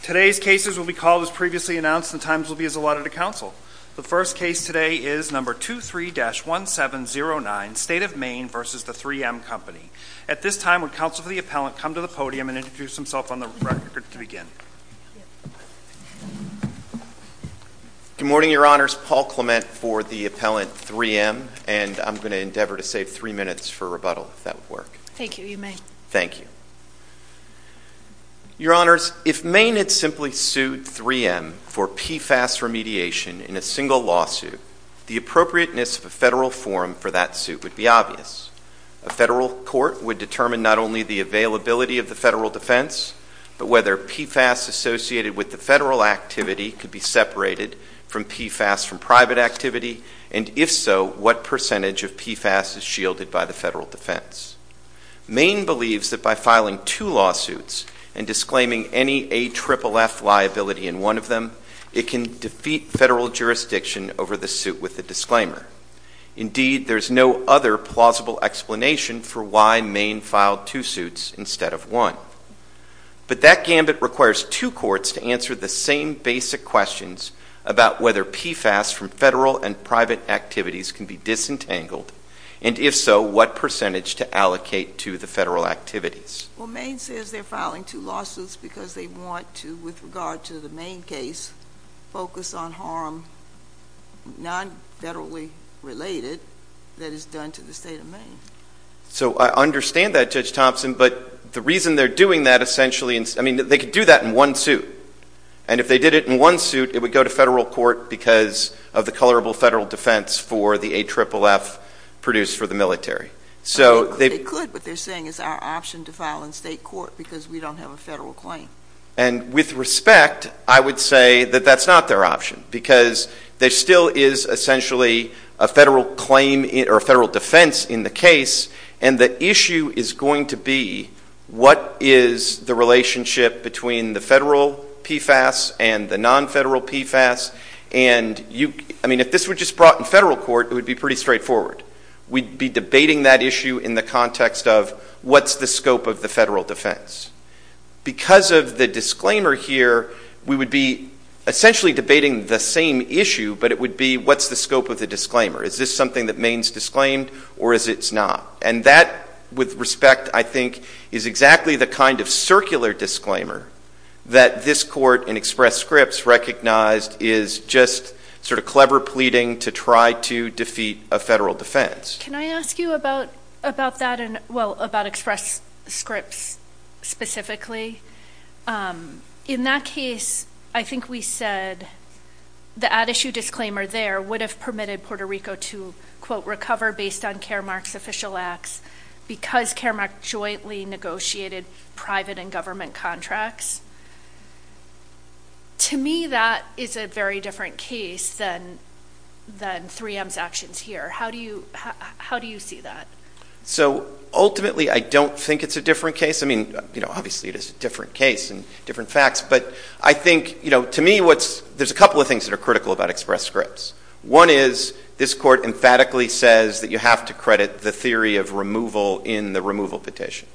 Today's cases will be called as previously announced and the times will be as allotted to counsel. The first case today is No. 23-1709, State of Maine v. 3M Company. At this time, would counsel for the appellant come to the podium and introduce himself on the record to begin? Good morning, Your Honors. Paul Clement for the appellant, 3M. And I'm going to endeavor to save three minutes for rebuttal, if that would work. Thank you. You may. Thank you. Your Honors, if Maine had simply sued 3M for PFAS remediation in a single lawsuit, the appropriateness of a federal forum for that suit would be obvious. A federal court would determine not only the availability of the federal defense, but whether PFAS associated with the federal activity could be separated from PFAS from private activity, and if so, what percentage of PFAS is shielded by the federal defense. Maine believes that by filing two lawsuits and disclaiming any AFFF liability in one of them, it can defeat federal jurisdiction over the suit with a disclaimer. Indeed, there's no other plausible explanation for why Maine filed two suits instead of one. But that gambit requires two courts to answer the same basic questions about whether PFAS from federal and private activities can be disentangled, and if so, what percentage to allocate to the federal activities. Well, Maine says they're filing two lawsuits because they want to, with regard to the Maine case, focus on harm non-federally related that is done to the state of Maine. So I understand that, Judge Thompson, but the reason they're doing that essentially is, I mean, they could do that in one suit, and if they did it in one suit, it would go to federal court because of the colorable federal defense for the AFFF produced for the military. They could, but they're saying it's our option to file in state court because we don't have a federal claim. And with respect, I would say that that's not their option, because there still is essentially a federal claim or a federal defense in the case, and the issue is going to be what is the relationship between the federal PFAS and the non-federal PFAS. And, I mean, if this were just brought in federal court, it would be pretty straightforward. We'd be debating that issue in the context of what's the scope of the federal defense. Because of the disclaimer here, we would be essentially debating the same issue, but it would be what's the scope of the disclaimer. Is this something that Maine's disclaimed, or is it not? And that, with respect, I think, is exactly the kind of circular disclaimer that this court in Express Scripts recognized is just sort of clever pleading to try to defeat a federal defense. Can I ask you about that and, well, about Express Scripts specifically? In that case, I think we said the ad issue disclaimer there would have permitted Puerto Rico to, quote, recover based on Caremark's official acts, because Caremark jointly negotiated private and government contracts. To me, that is a very different case than 3M's actions here. How do you see that? So, ultimately, I don't think it's a different case. I mean, obviously, it is a different case and different facts. But I think, to me, there's a couple of things that are critical about Express Scripts. One is this court emphatically says that you have to credit the theory of removal in the removal petition.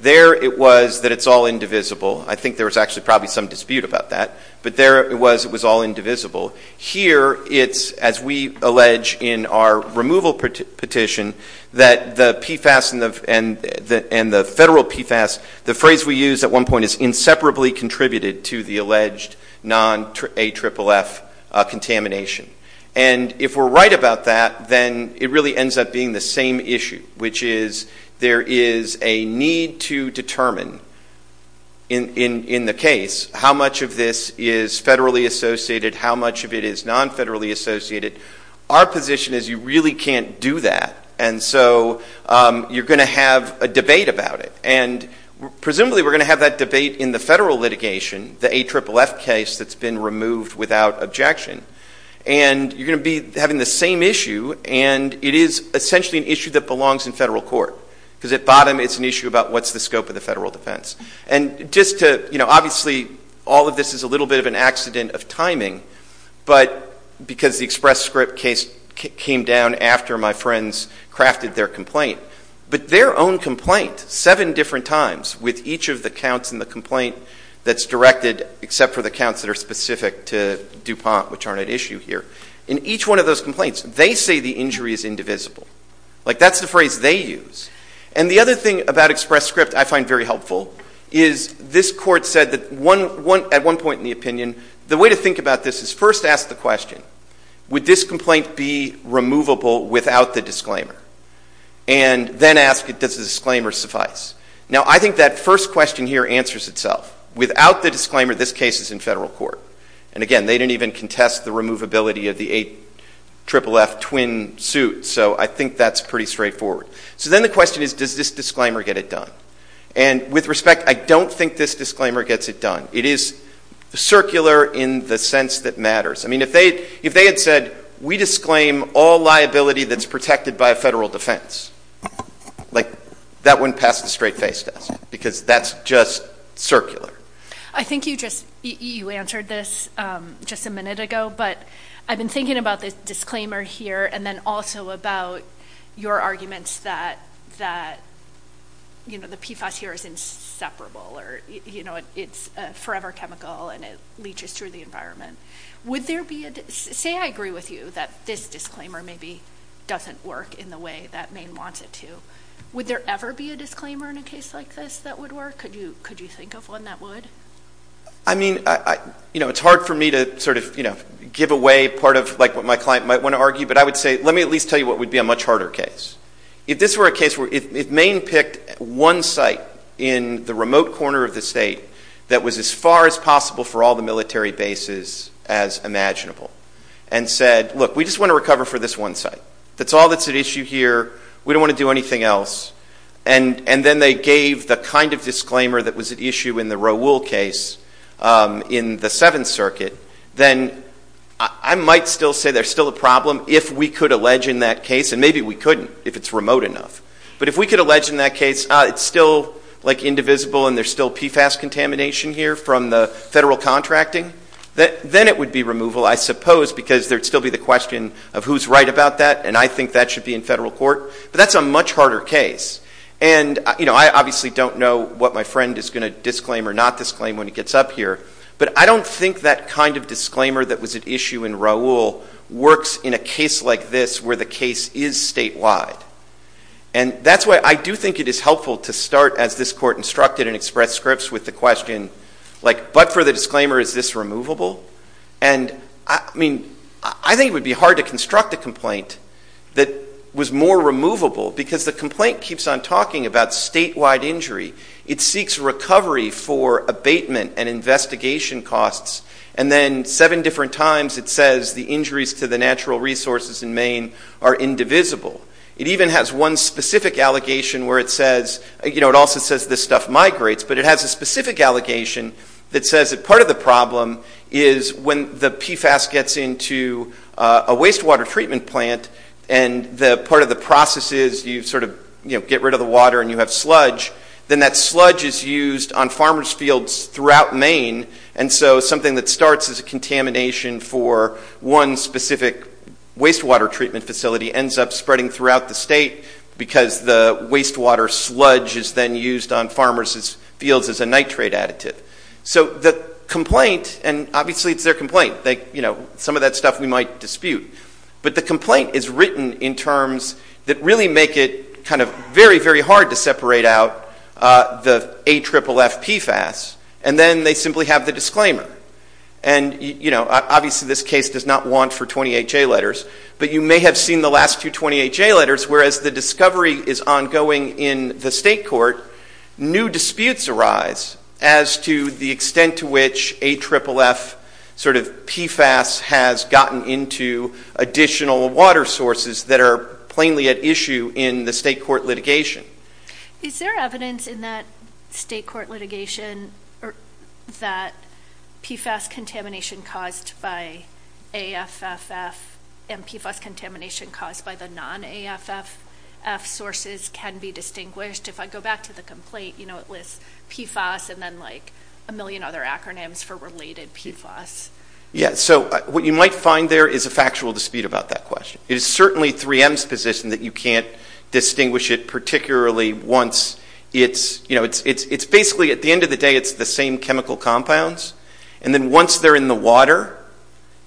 There it was that it's all indivisible. I think there was actually probably some dispute about that. But there it was it was all indivisible. Here it's, as we allege in our removal petition, that the PFAS and the federal PFAS, the phrase we used at one point is inseparably contributed to the alleged non-AFFF contamination. And if we're right about that, then it really ends up being the same issue, which is there is a need to determine in the case how much of this is federally associated, how much of it is non-federally associated. Our position is you really can't do that. And so you're going to have a debate about it. And presumably we're going to have that debate in the federal litigation, the AFFF case that's been removed without objection. And you're going to be having the same issue, and it is essentially an issue that belongs in federal court. Because at bottom, it's an issue about what's the scope of the federal defense. And just to, you know, obviously all of this is a little bit of an accident of timing, but because the Express Script case came down after my friends crafted their complaint, but their own complaint seven different times with each of the counts in the complaint that's directed, except for the counts that are specific to DuPont, which aren't at issue here. In each one of those complaints, they say the injury is indivisible. Like that's the phrase they use. And the other thing about Express Script I find very helpful is this court said that at one point in the opinion, the way to think about this is first ask the question, would this complaint be removable without the disclaimer? And then ask, does the disclaimer suffice? Now, I think that first question here answers itself. Without the disclaimer, this case is in federal court. And again, they didn't even contest the removability of the 8FFF twin suit, so I think that's pretty straightforward. So then the question is, does this disclaimer get it done? And with respect, I don't think this disclaimer gets it done. It is circular in the sense that matters. I mean, if they had said, we disclaim all liability that's protected by a federal defense, like that wouldn't pass the straight face test because that's just circular. I think you just answered this just a minute ago, but I've been thinking about this disclaimer here and then also about your arguments that the PFAS here is inseparable or it's forever chemical and it leaches through the environment. Say I agree with you that this disclaimer maybe doesn't work in the way that Maine wants it to. Would there ever be a disclaimer in a case like this that would work? Could you think of one that would? I mean, it's hard for me to sort of give away part of what my client might want to argue, but I would say let me at least tell you what would be a much harder case. If this were a case where if Maine picked one site in the remote corner of the state that was as far as possible for all the military bases as imaginable and said, look, we just want to recover for this one site. That's all that's at issue here. We don't want to do anything else. And then they gave the kind of disclaimer that was at issue in the Rowul case in the Seventh Circuit. Then I might still say there's still a problem if we could allege in that case, and maybe we couldn't if it's remote enough. But if we could allege in that case it's still indivisible and there's still PFAS contamination here from the federal contracting, then it would be removal, I suppose, because there would still be the question of who's right about that, and I think that should be in federal court. But that's a much harder case. And, you know, I obviously don't know what my friend is going to disclaim or not disclaim when he gets up here, but I don't think that kind of disclaimer that was at issue in Rowul works in a case like this where the case is statewide. And that's why I do think it is helpful to start, as this Court instructed, and express scripts with the question, like, but for the disclaimer, is this removable? And, I mean, I think it would be hard to construct a complaint that was more removable because the complaint keeps on talking about statewide injury. It seeks recovery for abatement and investigation costs, and then seven different times it says the injuries to the natural resources in Maine are indivisible. It even has one specific allegation where it says, you know, it also says this stuff migrates, but it has a specific allegation that says that part of the problem is when the PFAS gets into a wastewater treatment plant and part of the process is you sort of, you know, get rid of the water and you have sludge, then that sludge is used on farmers' fields throughout Maine. And so something that starts as a contamination for one specific wastewater treatment facility ends up spreading throughout the state because the wastewater sludge is then used on farmers' fields as a nitrate additive. So the complaint, and obviously it's their complaint, you know, some of that stuff we might dispute, but the complaint is written in terms that really make it kind of very, very hard to separate out the AFFF PFAS, and then they simply have the disclaimer. And, you know, obviously this case does not want for 28 J letters, but you may have seen the last two 28 J letters where as the discovery is ongoing in the state court, new disputes arise as to the extent to which AFFF sort of PFAS has gotten into additional water sources that are plainly at issue in the state court litigation. Is there evidence in that state court litigation that PFAS contamination caused by AFFF and PFAS contamination caused by the non-AFFF sources can be distinguished? If I go back to the complaint, you know, it lists PFAS and then like a million other acronyms for related PFAS. Yeah, so what you might find there is a factual dispute about that question. It is certainly 3M's position that you can't distinguish it particularly once it's, you know, it's basically at the end of the day it's the same chemical compounds. And then once they're in the water,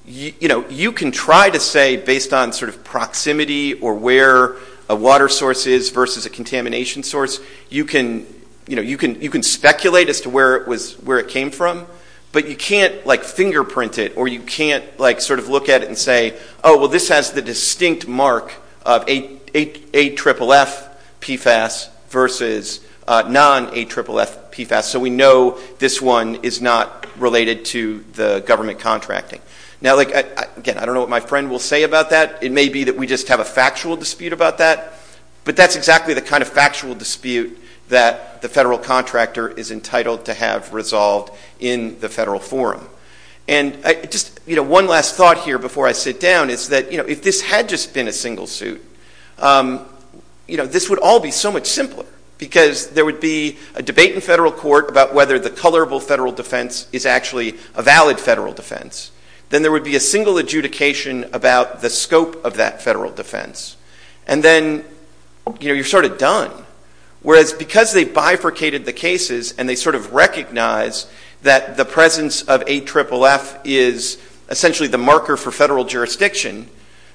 you know, you can try to say based on sort of proximity or where a water source is versus a contamination source, you can, you know, you can speculate as to where it was, where it came from, but you can't like fingerprint it or you can't like sort of look at it and say, oh, well, this has the distinct mark of AFFF PFAS versus non-AFFF PFAS. So we know this one is not related to the government contracting. Now, again, I don't know what my friend will say about that. It may be that we just have a factual dispute about that, but that's exactly the kind of factual dispute that the federal contractor is entitled to have resolved in the federal forum. And just, you know, one last thought here before I sit down is that, you know, if this had just been a single suit, you know, this would all be so much simpler because there would be a debate in federal court about whether the colorable federal defense is actually a valid federal defense. Then there would be a single adjudication about the scope of that federal defense. And then, you know, you're sort of done. Whereas because they bifurcated the cases and they sort of recognize that the presence of AFFF is essentially the marker for federal jurisdiction,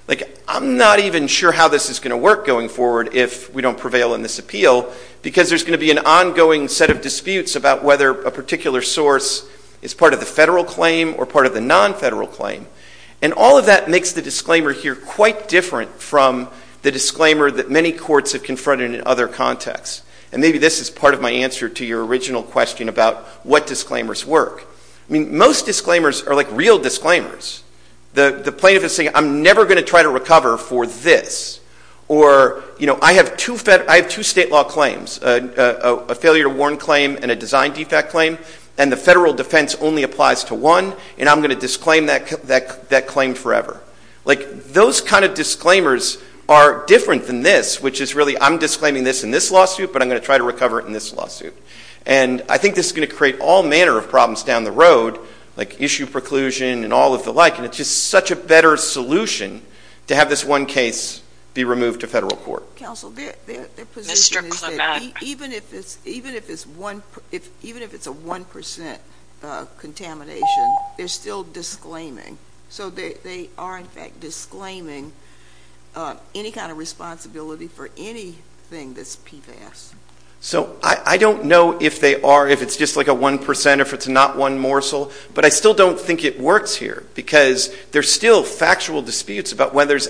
like I'm not even sure how this is going to work going forward if we don't prevail in this appeal because there's going to be an ongoing set of disputes about whether a particular source is part of the federal claim or part of the non-federal claim. And all of that makes the disclaimer here quite different from the disclaimer that many courts have confronted in other contexts. And maybe this is part of my answer to your original question about what disclaimers work. I mean, most disclaimers are like real disclaimers. The plaintiff is saying, I'm never going to try to recover for this. Or, you know, I have two state law claims, a failure to warn claim and a design defect claim, and the federal defense only applies to one, and I'm going to disclaim that claim forever. Like those kind of disclaimers are different than this, which is really I'm disclaiming this in this lawsuit, but I'm going to try to recover it in this lawsuit. And I think this is going to create all manner of problems down the road, like issue preclusion and all of the like, and it's just such a better solution to have this one case be removed to federal court. So, counsel, their position is that even if it's a 1% contamination, they're still disclaiming. So they are, in fact, disclaiming any kind of responsibility for anything that's PFAS. So I don't know if they are, if it's just like a 1%, if it's not one morsel, but I still don't think it works here because there's still factual disputes about whether there's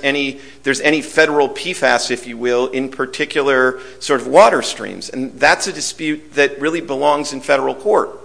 any federal PFAS, if you will, in particular sort of water streams. And that's a dispute that really belongs in federal court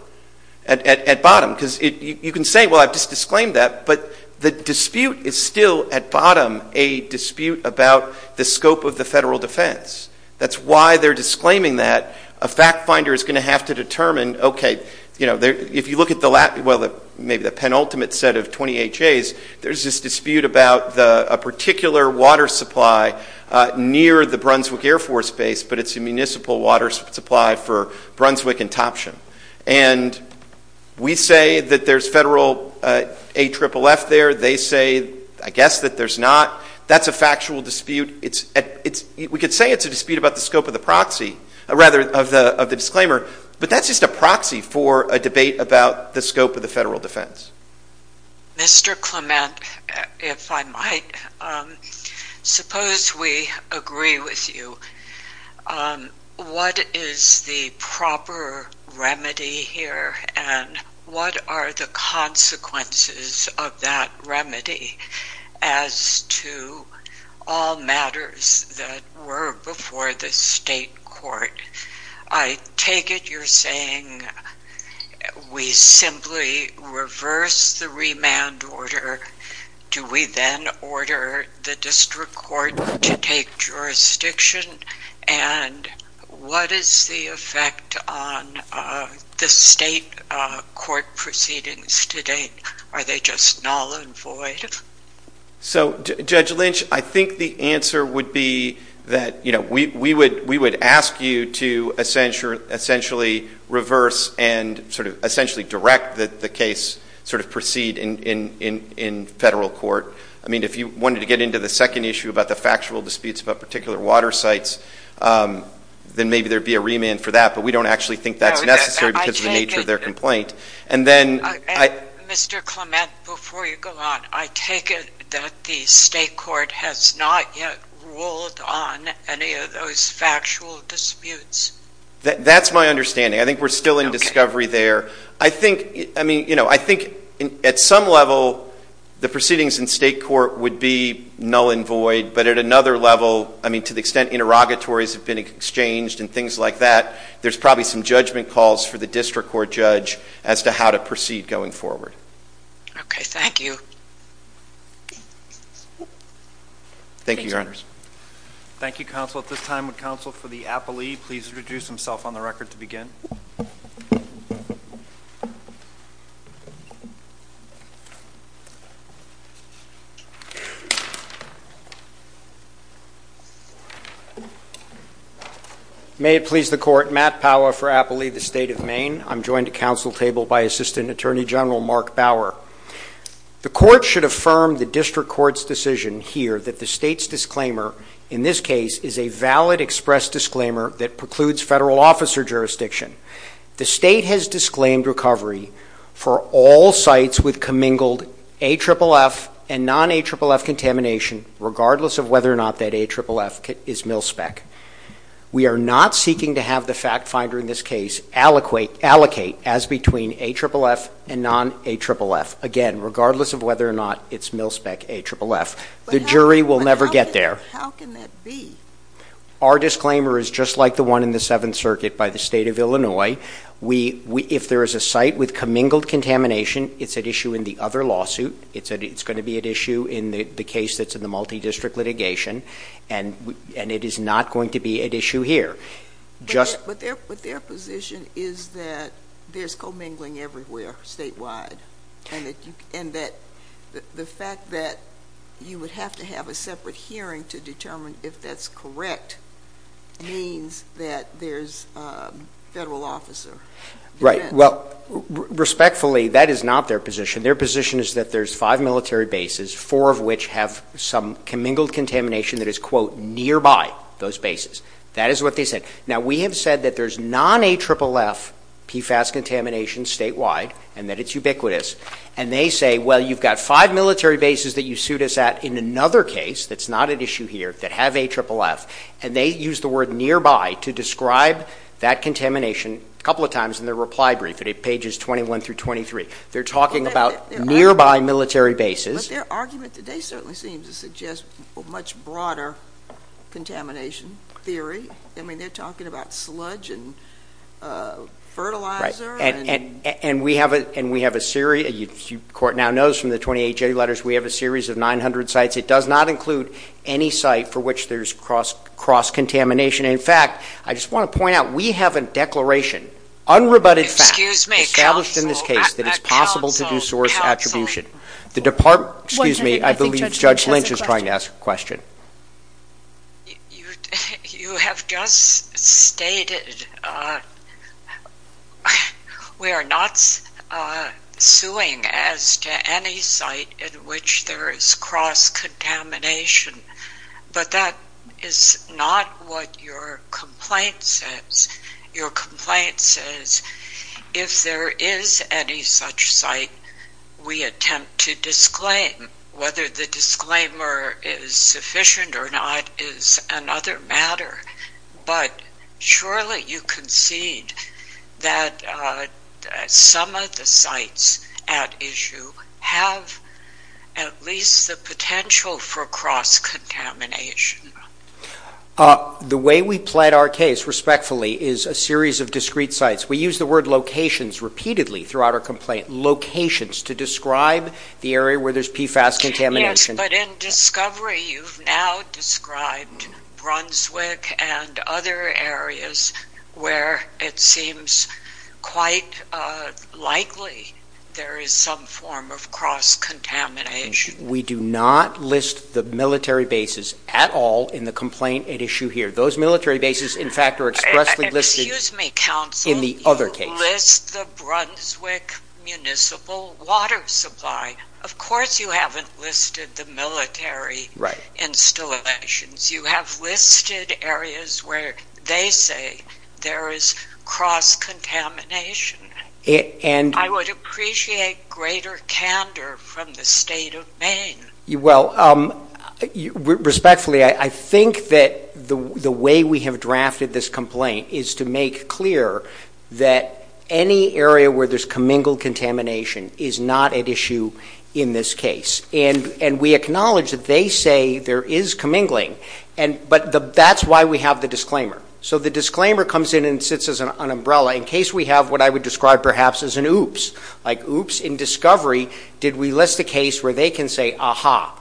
at bottom because you can say, well, I've just disclaimed that, but the dispute is still at bottom a dispute about the scope of the federal defense. That's why they're disclaiming that. A fact finder is going to have to determine, okay, if you look at the penultimate set of 20HAs, there's this dispute about a particular water supply near the Brunswick Air Force Base, but it's a municipal water supply for Brunswick and Topsham. And we say that there's federal AFFF there. They say, I guess, that there's not. That's a factual dispute. We could say it's a dispute about the scope of the proxy, rather of the disclaimer, but that's just a proxy for a debate about the scope of the federal defense. Mr. Clement, if I might, suppose we agree with you. What is the proper remedy here? And what are the consequences of that remedy as to all matters that were before the state court? I take it you're saying we simply reverse the remand order. Do we then order the district court to take jurisdiction? And what is the effect on the state court proceedings to date? Are they just null and void? So, Judge Lynch, I think the answer would be that we would ask you to essentially reverse and sort of essentially direct the case sort of proceed in federal court. I mean, if you wanted to get into the second issue about the factual disputes about particular water sites, then maybe there would be a remand for that. But we don't actually think that's necessary because of the nature of their complaint. Mr. Clement, before you go on, I take it that the state court has not yet ruled on any of those factual disputes. That's my understanding. I think we're still in discovery there. I think, I mean, you know, I think at some level the proceedings in state court would be null and void. But at another level, I mean, to the extent interrogatories have been exchanged and things like that, there's probably some judgment calls for the district court judge as to how to proceed going forward. Okay. Thank you. Thank you, Your Honors. Thank you, Counsel. At this time, would Counsel for the appellee please introduce himself on the record to begin? May it please the Court. Matt Power for appellee, the State of Maine. I'm joined at Council table by Assistant Attorney General Mark Bauer. The court should affirm the district court's decision here that the state's disclaimer, in this case, is a valid express disclaimer that precludes federal officer jurisdiction. The state has disclaimed recovery for all sites with commingled AFFF and non-AFFF contamination, regardless of whether or not that AFFF is mil-spec. We are not seeking to have the fact finder in this case allocate as between AFFF and non-AFFF, again, regardless of whether or not it's mil-spec AFFF. The jury will never get there. But how can that be? Our disclaimer is just like the one in the Seventh Circuit by the State of Illinois. If there is a site with commingled contamination, it's at issue in the other lawsuit. It's going to be at issue in the case that's in the multi-district litigation. And it is not going to be at issue here. But their position is that there's commingling everywhere statewide, and that the fact that you would have to have a separate hearing to determine if that's correct means that there's federal officer defense. Right. Well, respectfully, that is not their position. Their position is that there's five military bases, four of which have some commingled contamination that is, quote, nearby those bases. That is what they said. Now, we have said that there's non-AFFF PFAS contamination statewide and that it's ubiquitous. And they say, well, you've got five military bases that you sued us at in another case, that's not at issue here, that have AFFF. And they use the word nearby to describe that contamination a couple of times in their reply brief. It's pages 21 through 23. They're talking about nearby military bases. But their argument today certainly seems to suggest a much broader contamination theory. I mean, they're talking about sludge and fertilizer. And we have a series of 900 sites. It does not include any site for which there's cross-contamination. In fact, I just want to point out, we have a declaration. Unrebutted fact established in this case that it's possible to do source attribution. The department, excuse me, I believe Judge Lynch is trying to ask a question. You have just stated we are not suing as to any site in which there is cross-contamination. But that is not what your complaint says. Your complaint says if there is any such site, we attempt to disclaim. Whether the disclaimer is sufficient or not is another matter. But surely you concede that some of the sites at issue have at least the potential for cross-contamination. The way we plaid our case, respectfully, is a series of discrete sites. We use the word locations repeatedly throughout our complaint. Locations to describe the area where there's PFAS contamination. Yes, but in discovery you've now described Brunswick and other areas where it seems quite likely there is some form of cross-contamination. We do not list the military bases at all in the complaint at issue here. Those military bases, in fact, are expressly listed in the other case. Excuse me, counsel, you list the Brunswick Municipal Water Supply. Of course you haven't listed the military installations. You have listed areas where they say there is cross-contamination. I would appreciate greater candor from the State of Maine. Well, respectfully, I think that the way we have drafted this complaint is to make clear that any area where there's commingled contamination is not at issue in this case. And we acknowledge that they say there is commingling, but that's why we have the disclaimer. So the disclaimer comes in and sits as an umbrella in case we have what I would describe perhaps as an oops. Like, oops, in discovery did we list a case where they can say, aha,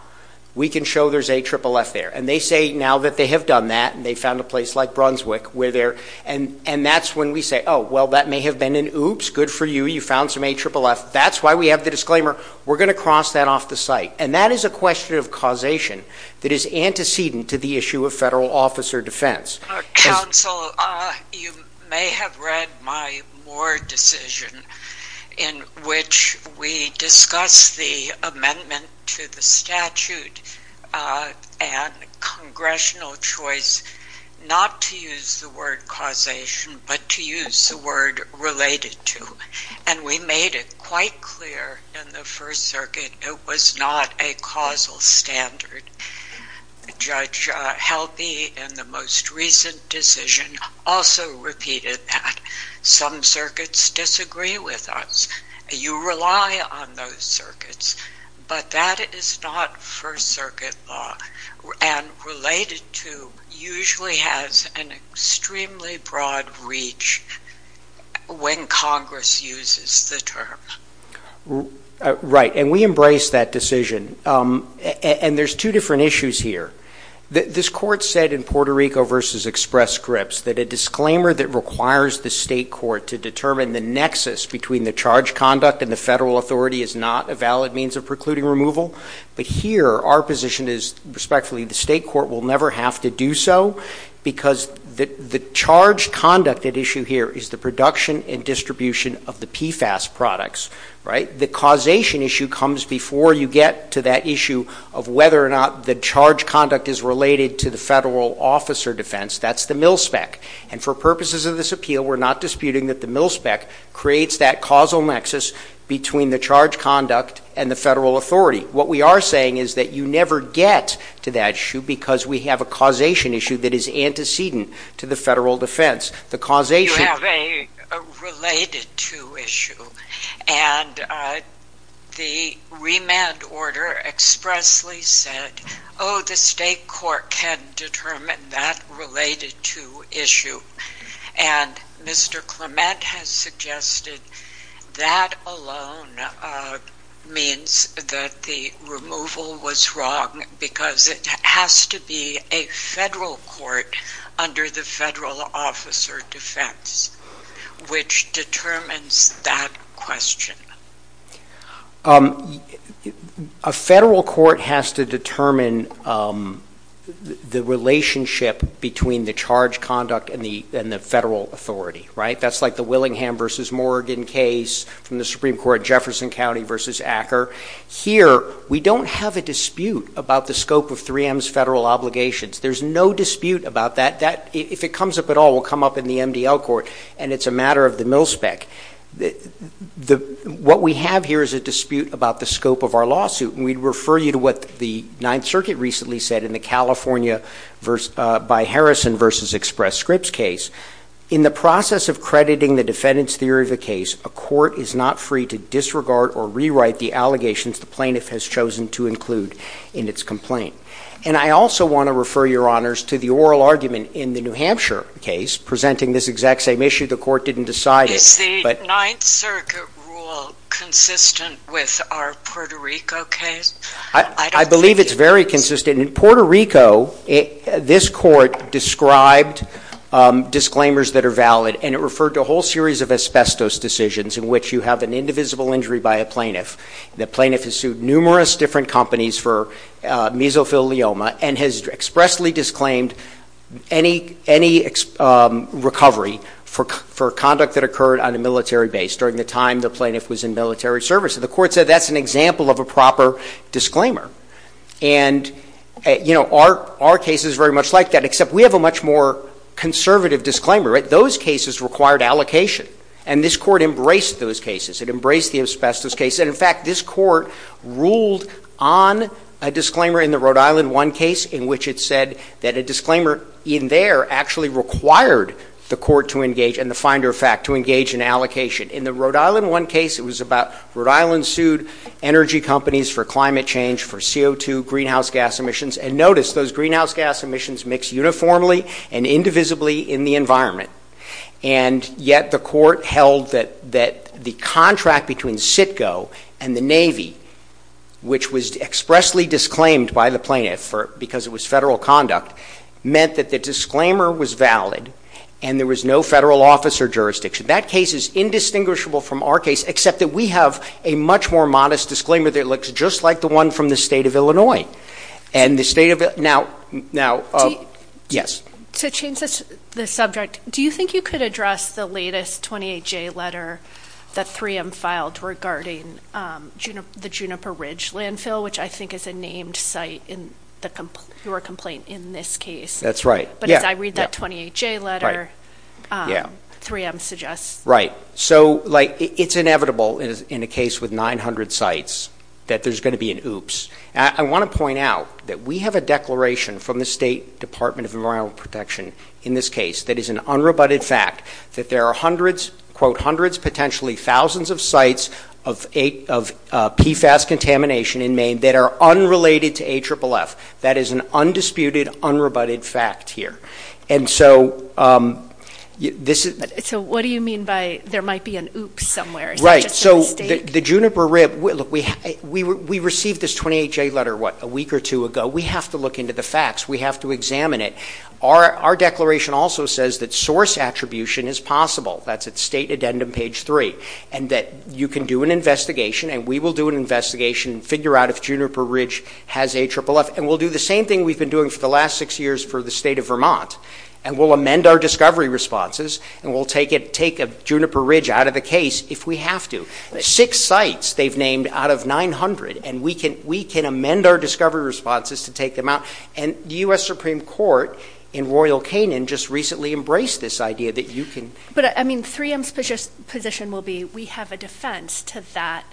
we can show there's AFFF there. And they say now that they have done that and they've found a place like Brunswick where they're – and that's when we say, oh, well, that may have been an oops. Good for you. You found some AFFF. That's why we have the disclaimer. We're going to cross that off the site. And that is a question of causation that is antecedent to the issue of federal officer defense. Counsel, you may have read my Moore decision in which we discussed the amendment to the statute and congressional choice not to use the word causation but to use the word related to. And we made it quite clear in the First Circuit it was not a causal standard. Judge Helpe in the most recent decision also repeated that. Some circuits disagree with us. You rely on those circuits. But that is not First Circuit law. And related to usually has an extremely broad reach when Congress uses the term. Right. And we embrace that decision. And there's two different issues here. This court said in Puerto Rico v. Express Scripps that a disclaimer that requires the state court to determine the nexus between the charge conduct and the federal authority is not a valid means of precluding removal. But here our position is respectfully the state court will never have to do so because the charge conduct issue here is the production and distribution of the PFAS products. Right. The causation issue comes before you get to that issue of whether or not the charge conduct is related to the federal officer defense. That's the mil spec. And for purposes of this appeal we're not disputing that the mil spec creates that causal nexus between the charge conduct and the federal authority. What we are saying is that you never get to that issue because we have a causation issue that is antecedent to the federal defense. You have a related to issue. And the remand order expressly said, oh, the state court can determine that related to issue. And Mr. Clement has suggested that alone means that the removal was wrong because it has to be a federal court under the federal officer defense, which determines that question. A federal court has to determine the relationship between the charge conduct and the federal authority. Right. That's like the Willingham v. Morgan case from the Supreme Court, Jefferson County v. Acker. Here we don't have a dispute about the scope of 3M's federal obligations. There's no dispute about that. If it comes up at all, it will come up in the MDL court. And it's a matter of the mil spec. What we have here is a dispute about the scope of our lawsuit. And we'd refer you to what the Ninth Circuit recently said in the California v. Harrison v. Express Scripps case. In the process of crediting the defendant's theory of the case, a court is not free to disregard or rewrite the allegations the plaintiff has chosen to include in its complaint. And I also want to refer your honors to the oral argument in the New Hampshire case presenting this exact same issue. The court didn't decide it. Is the Ninth Circuit rule consistent with our Puerto Rico case? I believe it's very consistent. In Puerto Rico, this court described disclaimers that are valid, and it referred to a whole series of asbestos decisions in which you have an indivisible injury by a plaintiff. The plaintiff has sued numerous different companies for mesothelioma and has expressly disclaimed any recovery for conduct that occurred on a military base during the time the plaintiff was in military service. And the court said that's an example of a proper disclaimer. And, you know, our case is very much like that, except we have a much more conservative disclaimer. Those cases required allocation. And this court embraced those cases. It embraced the asbestos case. And, in fact, this court ruled on a disclaimer in the Rhode Island One case in which it said that a disclaimer in there actually required the court to engage and the finder of fact to engage in allocation. In the Rhode Island One case, it was about Rhode Island sued energy companies for climate change, for CO2, greenhouse gas emissions. And notice those greenhouse gas emissions mix uniformly and indivisibly in the environment. And yet the court held that the contract between CITCO and the Navy, which was expressly disclaimed by the plaintiff because it was federal conduct, meant that the disclaimer was valid and there was no federal office or jurisdiction. That case is indistinguishable from our case, except that we have a much more modest disclaimer that looks just like the one from the state of Illinois. And the state of – now – yes? To change the subject, do you think you could address the latest 28J letter that 3M filed regarding the Juniper Ridge landfill, which I think is a named site in your complaint in this case? That's right. But as I read that 28J letter, 3M suggests – Right. So, like, it's inevitable in a case with 900 sites that there's going to be an oops. I want to point out that we have a declaration from the State Department of Environmental Protection in this case that is an unrebutted fact that there are hundreds, quote, hundreds, potentially thousands of sites of PFAS contamination in Maine that are unrelated to AFFF. That is an undisputed, unrebutted fact here. And so this is – So what do you mean by there might be an oops somewhere? Is that just a mistake? The Juniper Ridge – look, we received this 28J letter, what, a week or two ago. We have to look into the facts. We have to examine it. Our declaration also says that source attribution is possible. That's at State Addendum Page 3. And that you can do an investigation, and we will do an investigation, figure out if Juniper Ridge has AFFF. And we'll do the same thing we've been doing for the last six years for the state of Vermont. And we'll amend our discovery responses. And we'll take a Juniper Ridge out of the case if we have to. Six sites they've named out of 900, and we can amend our discovery responses to take them out. And the U.S. Supreme Court in Royal Canin just recently embraced this idea that you can – But, I mean, 3M's position will be we have a defense to that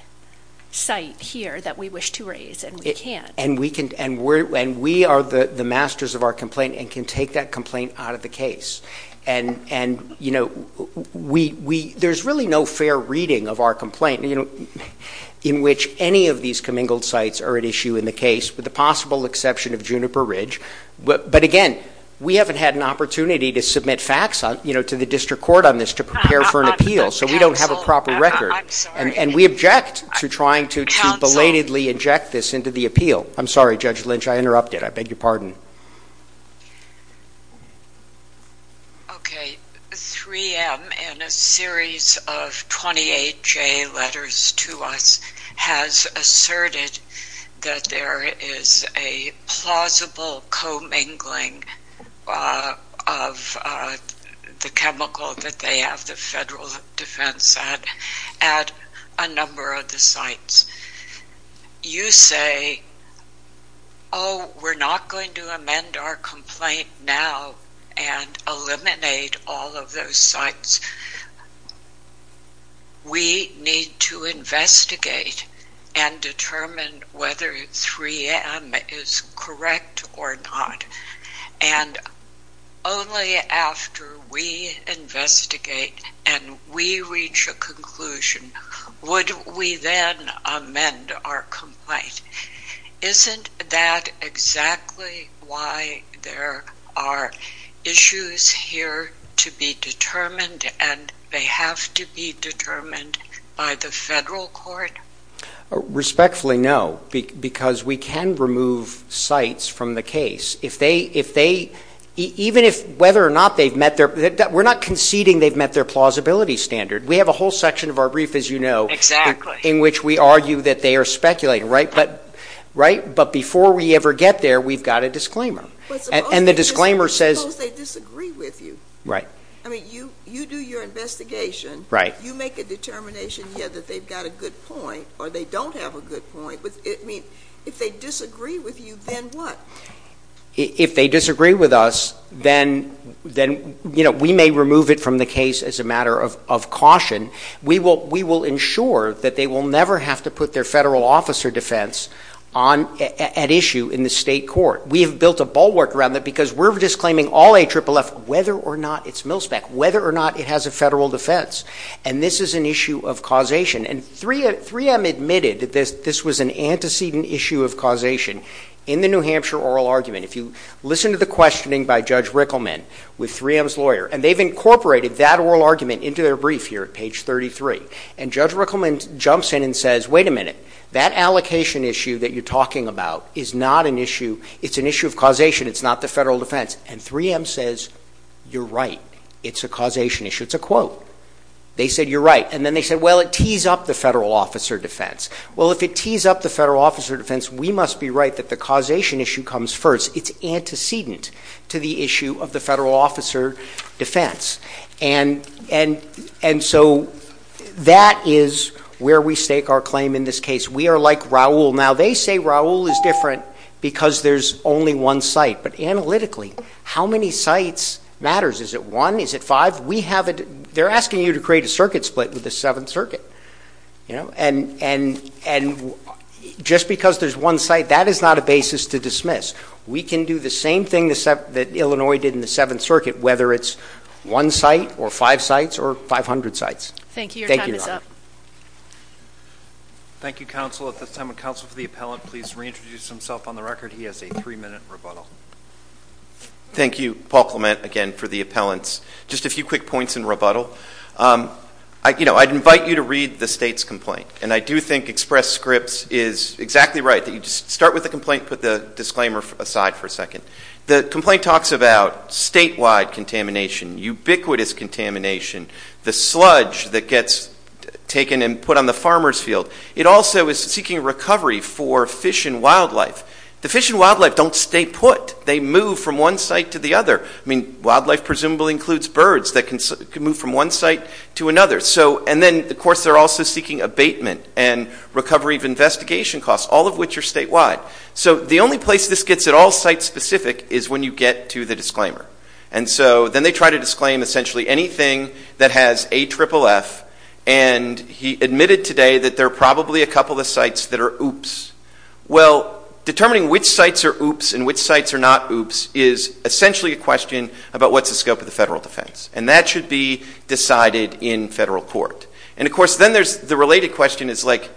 site here that we wish to raise, and we can't. And we are the masters of our complaint and can take that complaint out of the case. And, you know, there's really no fair reading of our complaint in which any of these commingled sites are at issue in the case, with the possible exception of Juniper Ridge. But, again, we haven't had an opportunity to submit facts to the district court on this to prepare for an appeal. So we don't have a proper record. And we object to trying to belatedly inject this into the appeal. I'm sorry, Judge Lynch. I interrupted. I beg your pardon. Okay. 3M, in a series of 28-J letters to us, has asserted that there is a plausible commingling of the chemical that they have the federal defense at a number of the sites. You say, oh, we're not going to amend our complaint now and eliminate all of those sites. We need to investigate and determine whether 3M is correct or not. And only after we investigate and we reach a conclusion would we then amend our complaint. Isn't that exactly why there are issues here to be determined and they have to be determined by the federal court? Respectfully, no, because we can remove sites from the case. Even if whether or not they've met their, we're not conceding they've met their plausibility standard. We have a whole section of our brief, as you know, in which we argue that they are speculating. But before we ever get there, we've got a disclaimer. And the disclaimer says. Suppose they disagree with you. Right. I mean, you do your investigation. Right. You make a determination, yeah, that they've got a good point or they don't have a good point. If they disagree with you, then what? If they disagree with us, then we may remove it from the case as a matter of caution. We will ensure that they will never have to put their federal officer defense at issue in the state court. We have built a bulwark around that because we're disclaiming all AFFF, whether or not it's mil-spec, whether or not it has a federal defense. And this is an issue of causation. And 3M admitted that this was an antecedent issue of causation. In the New Hampshire oral argument, if you listen to the questioning by Judge Rickleman with 3M's lawyer, and they've incorporated that oral argument into their brief here at page 33. And Judge Rickleman jumps in and says, wait a minute. That allocation issue that you're talking about is not an issue. It's an issue of causation. It's not the federal defense. And 3M says, you're right. It's a causation issue. It's a quote. They said you're right. And then they said, well, it tees up the federal officer defense. Well, if it tees up the federal officer defense, we must be right that the causation issue comes first. It's antecedent to the issue of the federal officer defense. And so that is where we stake our claim in this case. We are like Raul. Now, they say Raul is different because there's only one site. But analytically, how many sites matters? Is it one? Is it five? They're asking you to create a circuit split with the Seventh Circuit. And just because there's one site, that is not a basis to dismiss. We can do the same thing that Illinois did in the Seventh Circuit, whether it's one site or five sites or 500 sites. Thank you. Your time is up. Thank you, counsel. At this time, would counsel for the appellant please reintroduce himself on the record? He has a three-minute rebuttal. Thank you, Paul Clement, again, for the appellants. Just a few quick points in rebuttal. You know, I'd invite you to read the state's complaint. And I do think Express Scripts is exactly right. You just start with the complaint, put the disclaimer aside for a second. The complaint talks about statewide contamination, ubiquitous contamination, the sludge that gets taken and put on the farmer's field. It also is seeking recovery for fish and wildlife. The fish and wildlife don't stay put. They move from one site to the other. I mean, wildlife presumably includes birds that can move from one site to another. And then, of course, they're also seeking abatement and recovery of investigation costs, all of which are statewide. So the only place this gets at all site-specific is when you get to the disclaimer. And so then they try to disclaim essentially anything that has AFFF. And he admitted today that there are probably a couple of sites that are oops. Well, determining which sites are oops and which sites are not oops is essentially a question about what's the scope of the federal defense. And that should be decided in federal court. And, of course, then there's the related question is, like,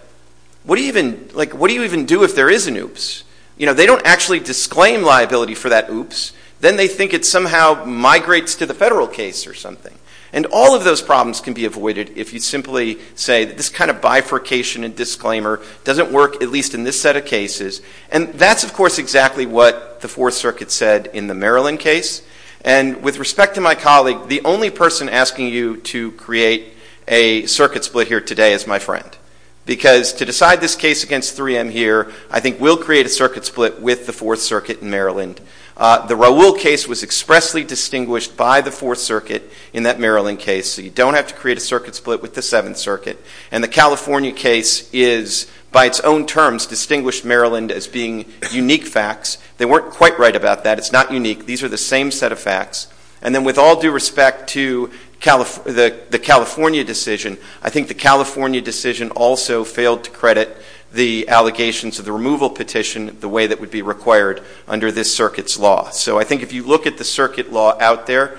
what do you even do if there is an oops? You know, they don't actually disclaim liability for that oops. Then they think it somehow migrates to the federal case or something. And all of those problems can be avoided if you simply say that this kind of bifurcation and disclaimer doesn't work at least in this set of cases. And that's, of course, exactly what the Fourth Circuit said in the Maryland case. And with respect to my colleague, the only person asking you to create a circuit split here today is my friend because to decide this case against 3M here, I think we'll create a circuit split with the Fourth Circuit in Maryland. The Raul case was expressly distinguished by the Fourth Circuit in that Maryland case. So you don't have to create a circuit split with the Seventh Circuit. And the California case is, by its own terms, distinguished Maryland as being unique facts. They weren't quite right about that. It's not unique. These are the same set of facts. And then with all due respect to the California decision, I think the California decision also failed to credit the allegations of the removal petition the way that would be required under this circuit's law. So I think if you look at the circuit law out there,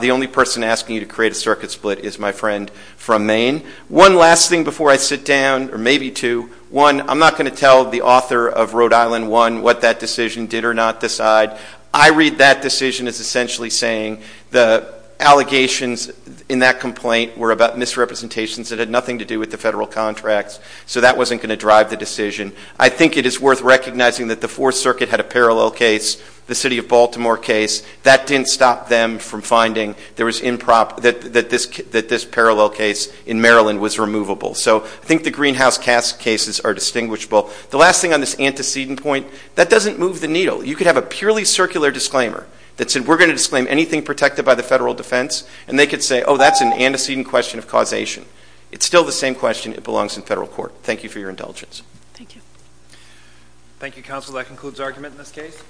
the only person asking you to create a circuit split is my friend from Maine. One last thing before I sit down, or maybe two. One, I'm not going to tell the author of Rhode Island 1 what that decision did or not decide. I read that decision as essentially saying the allegations in that complaint were about misrepresentations that had nothing to do with the federal contracts. So that wasn't going to drive the decision. I think it is worth recognizing that the Fourth Circuit had a parallel case, the city of Baltimore case. That didn't stop them from finding that this parallel case in Maryland was removable. So I think the greenhouse case cases are distinguishable. The last thing on this antecedent point, that doesn't move the needle. You could have a purely circular disclaimer that said, we're going to disclaim anything protected by the federal defense, and they could say, oh, that's an antecedent question of causation. It's still the same question. It belongs in federal court. Thank you for your indulgence. Thank you. Thank you, counsel. That concludes argument in this case.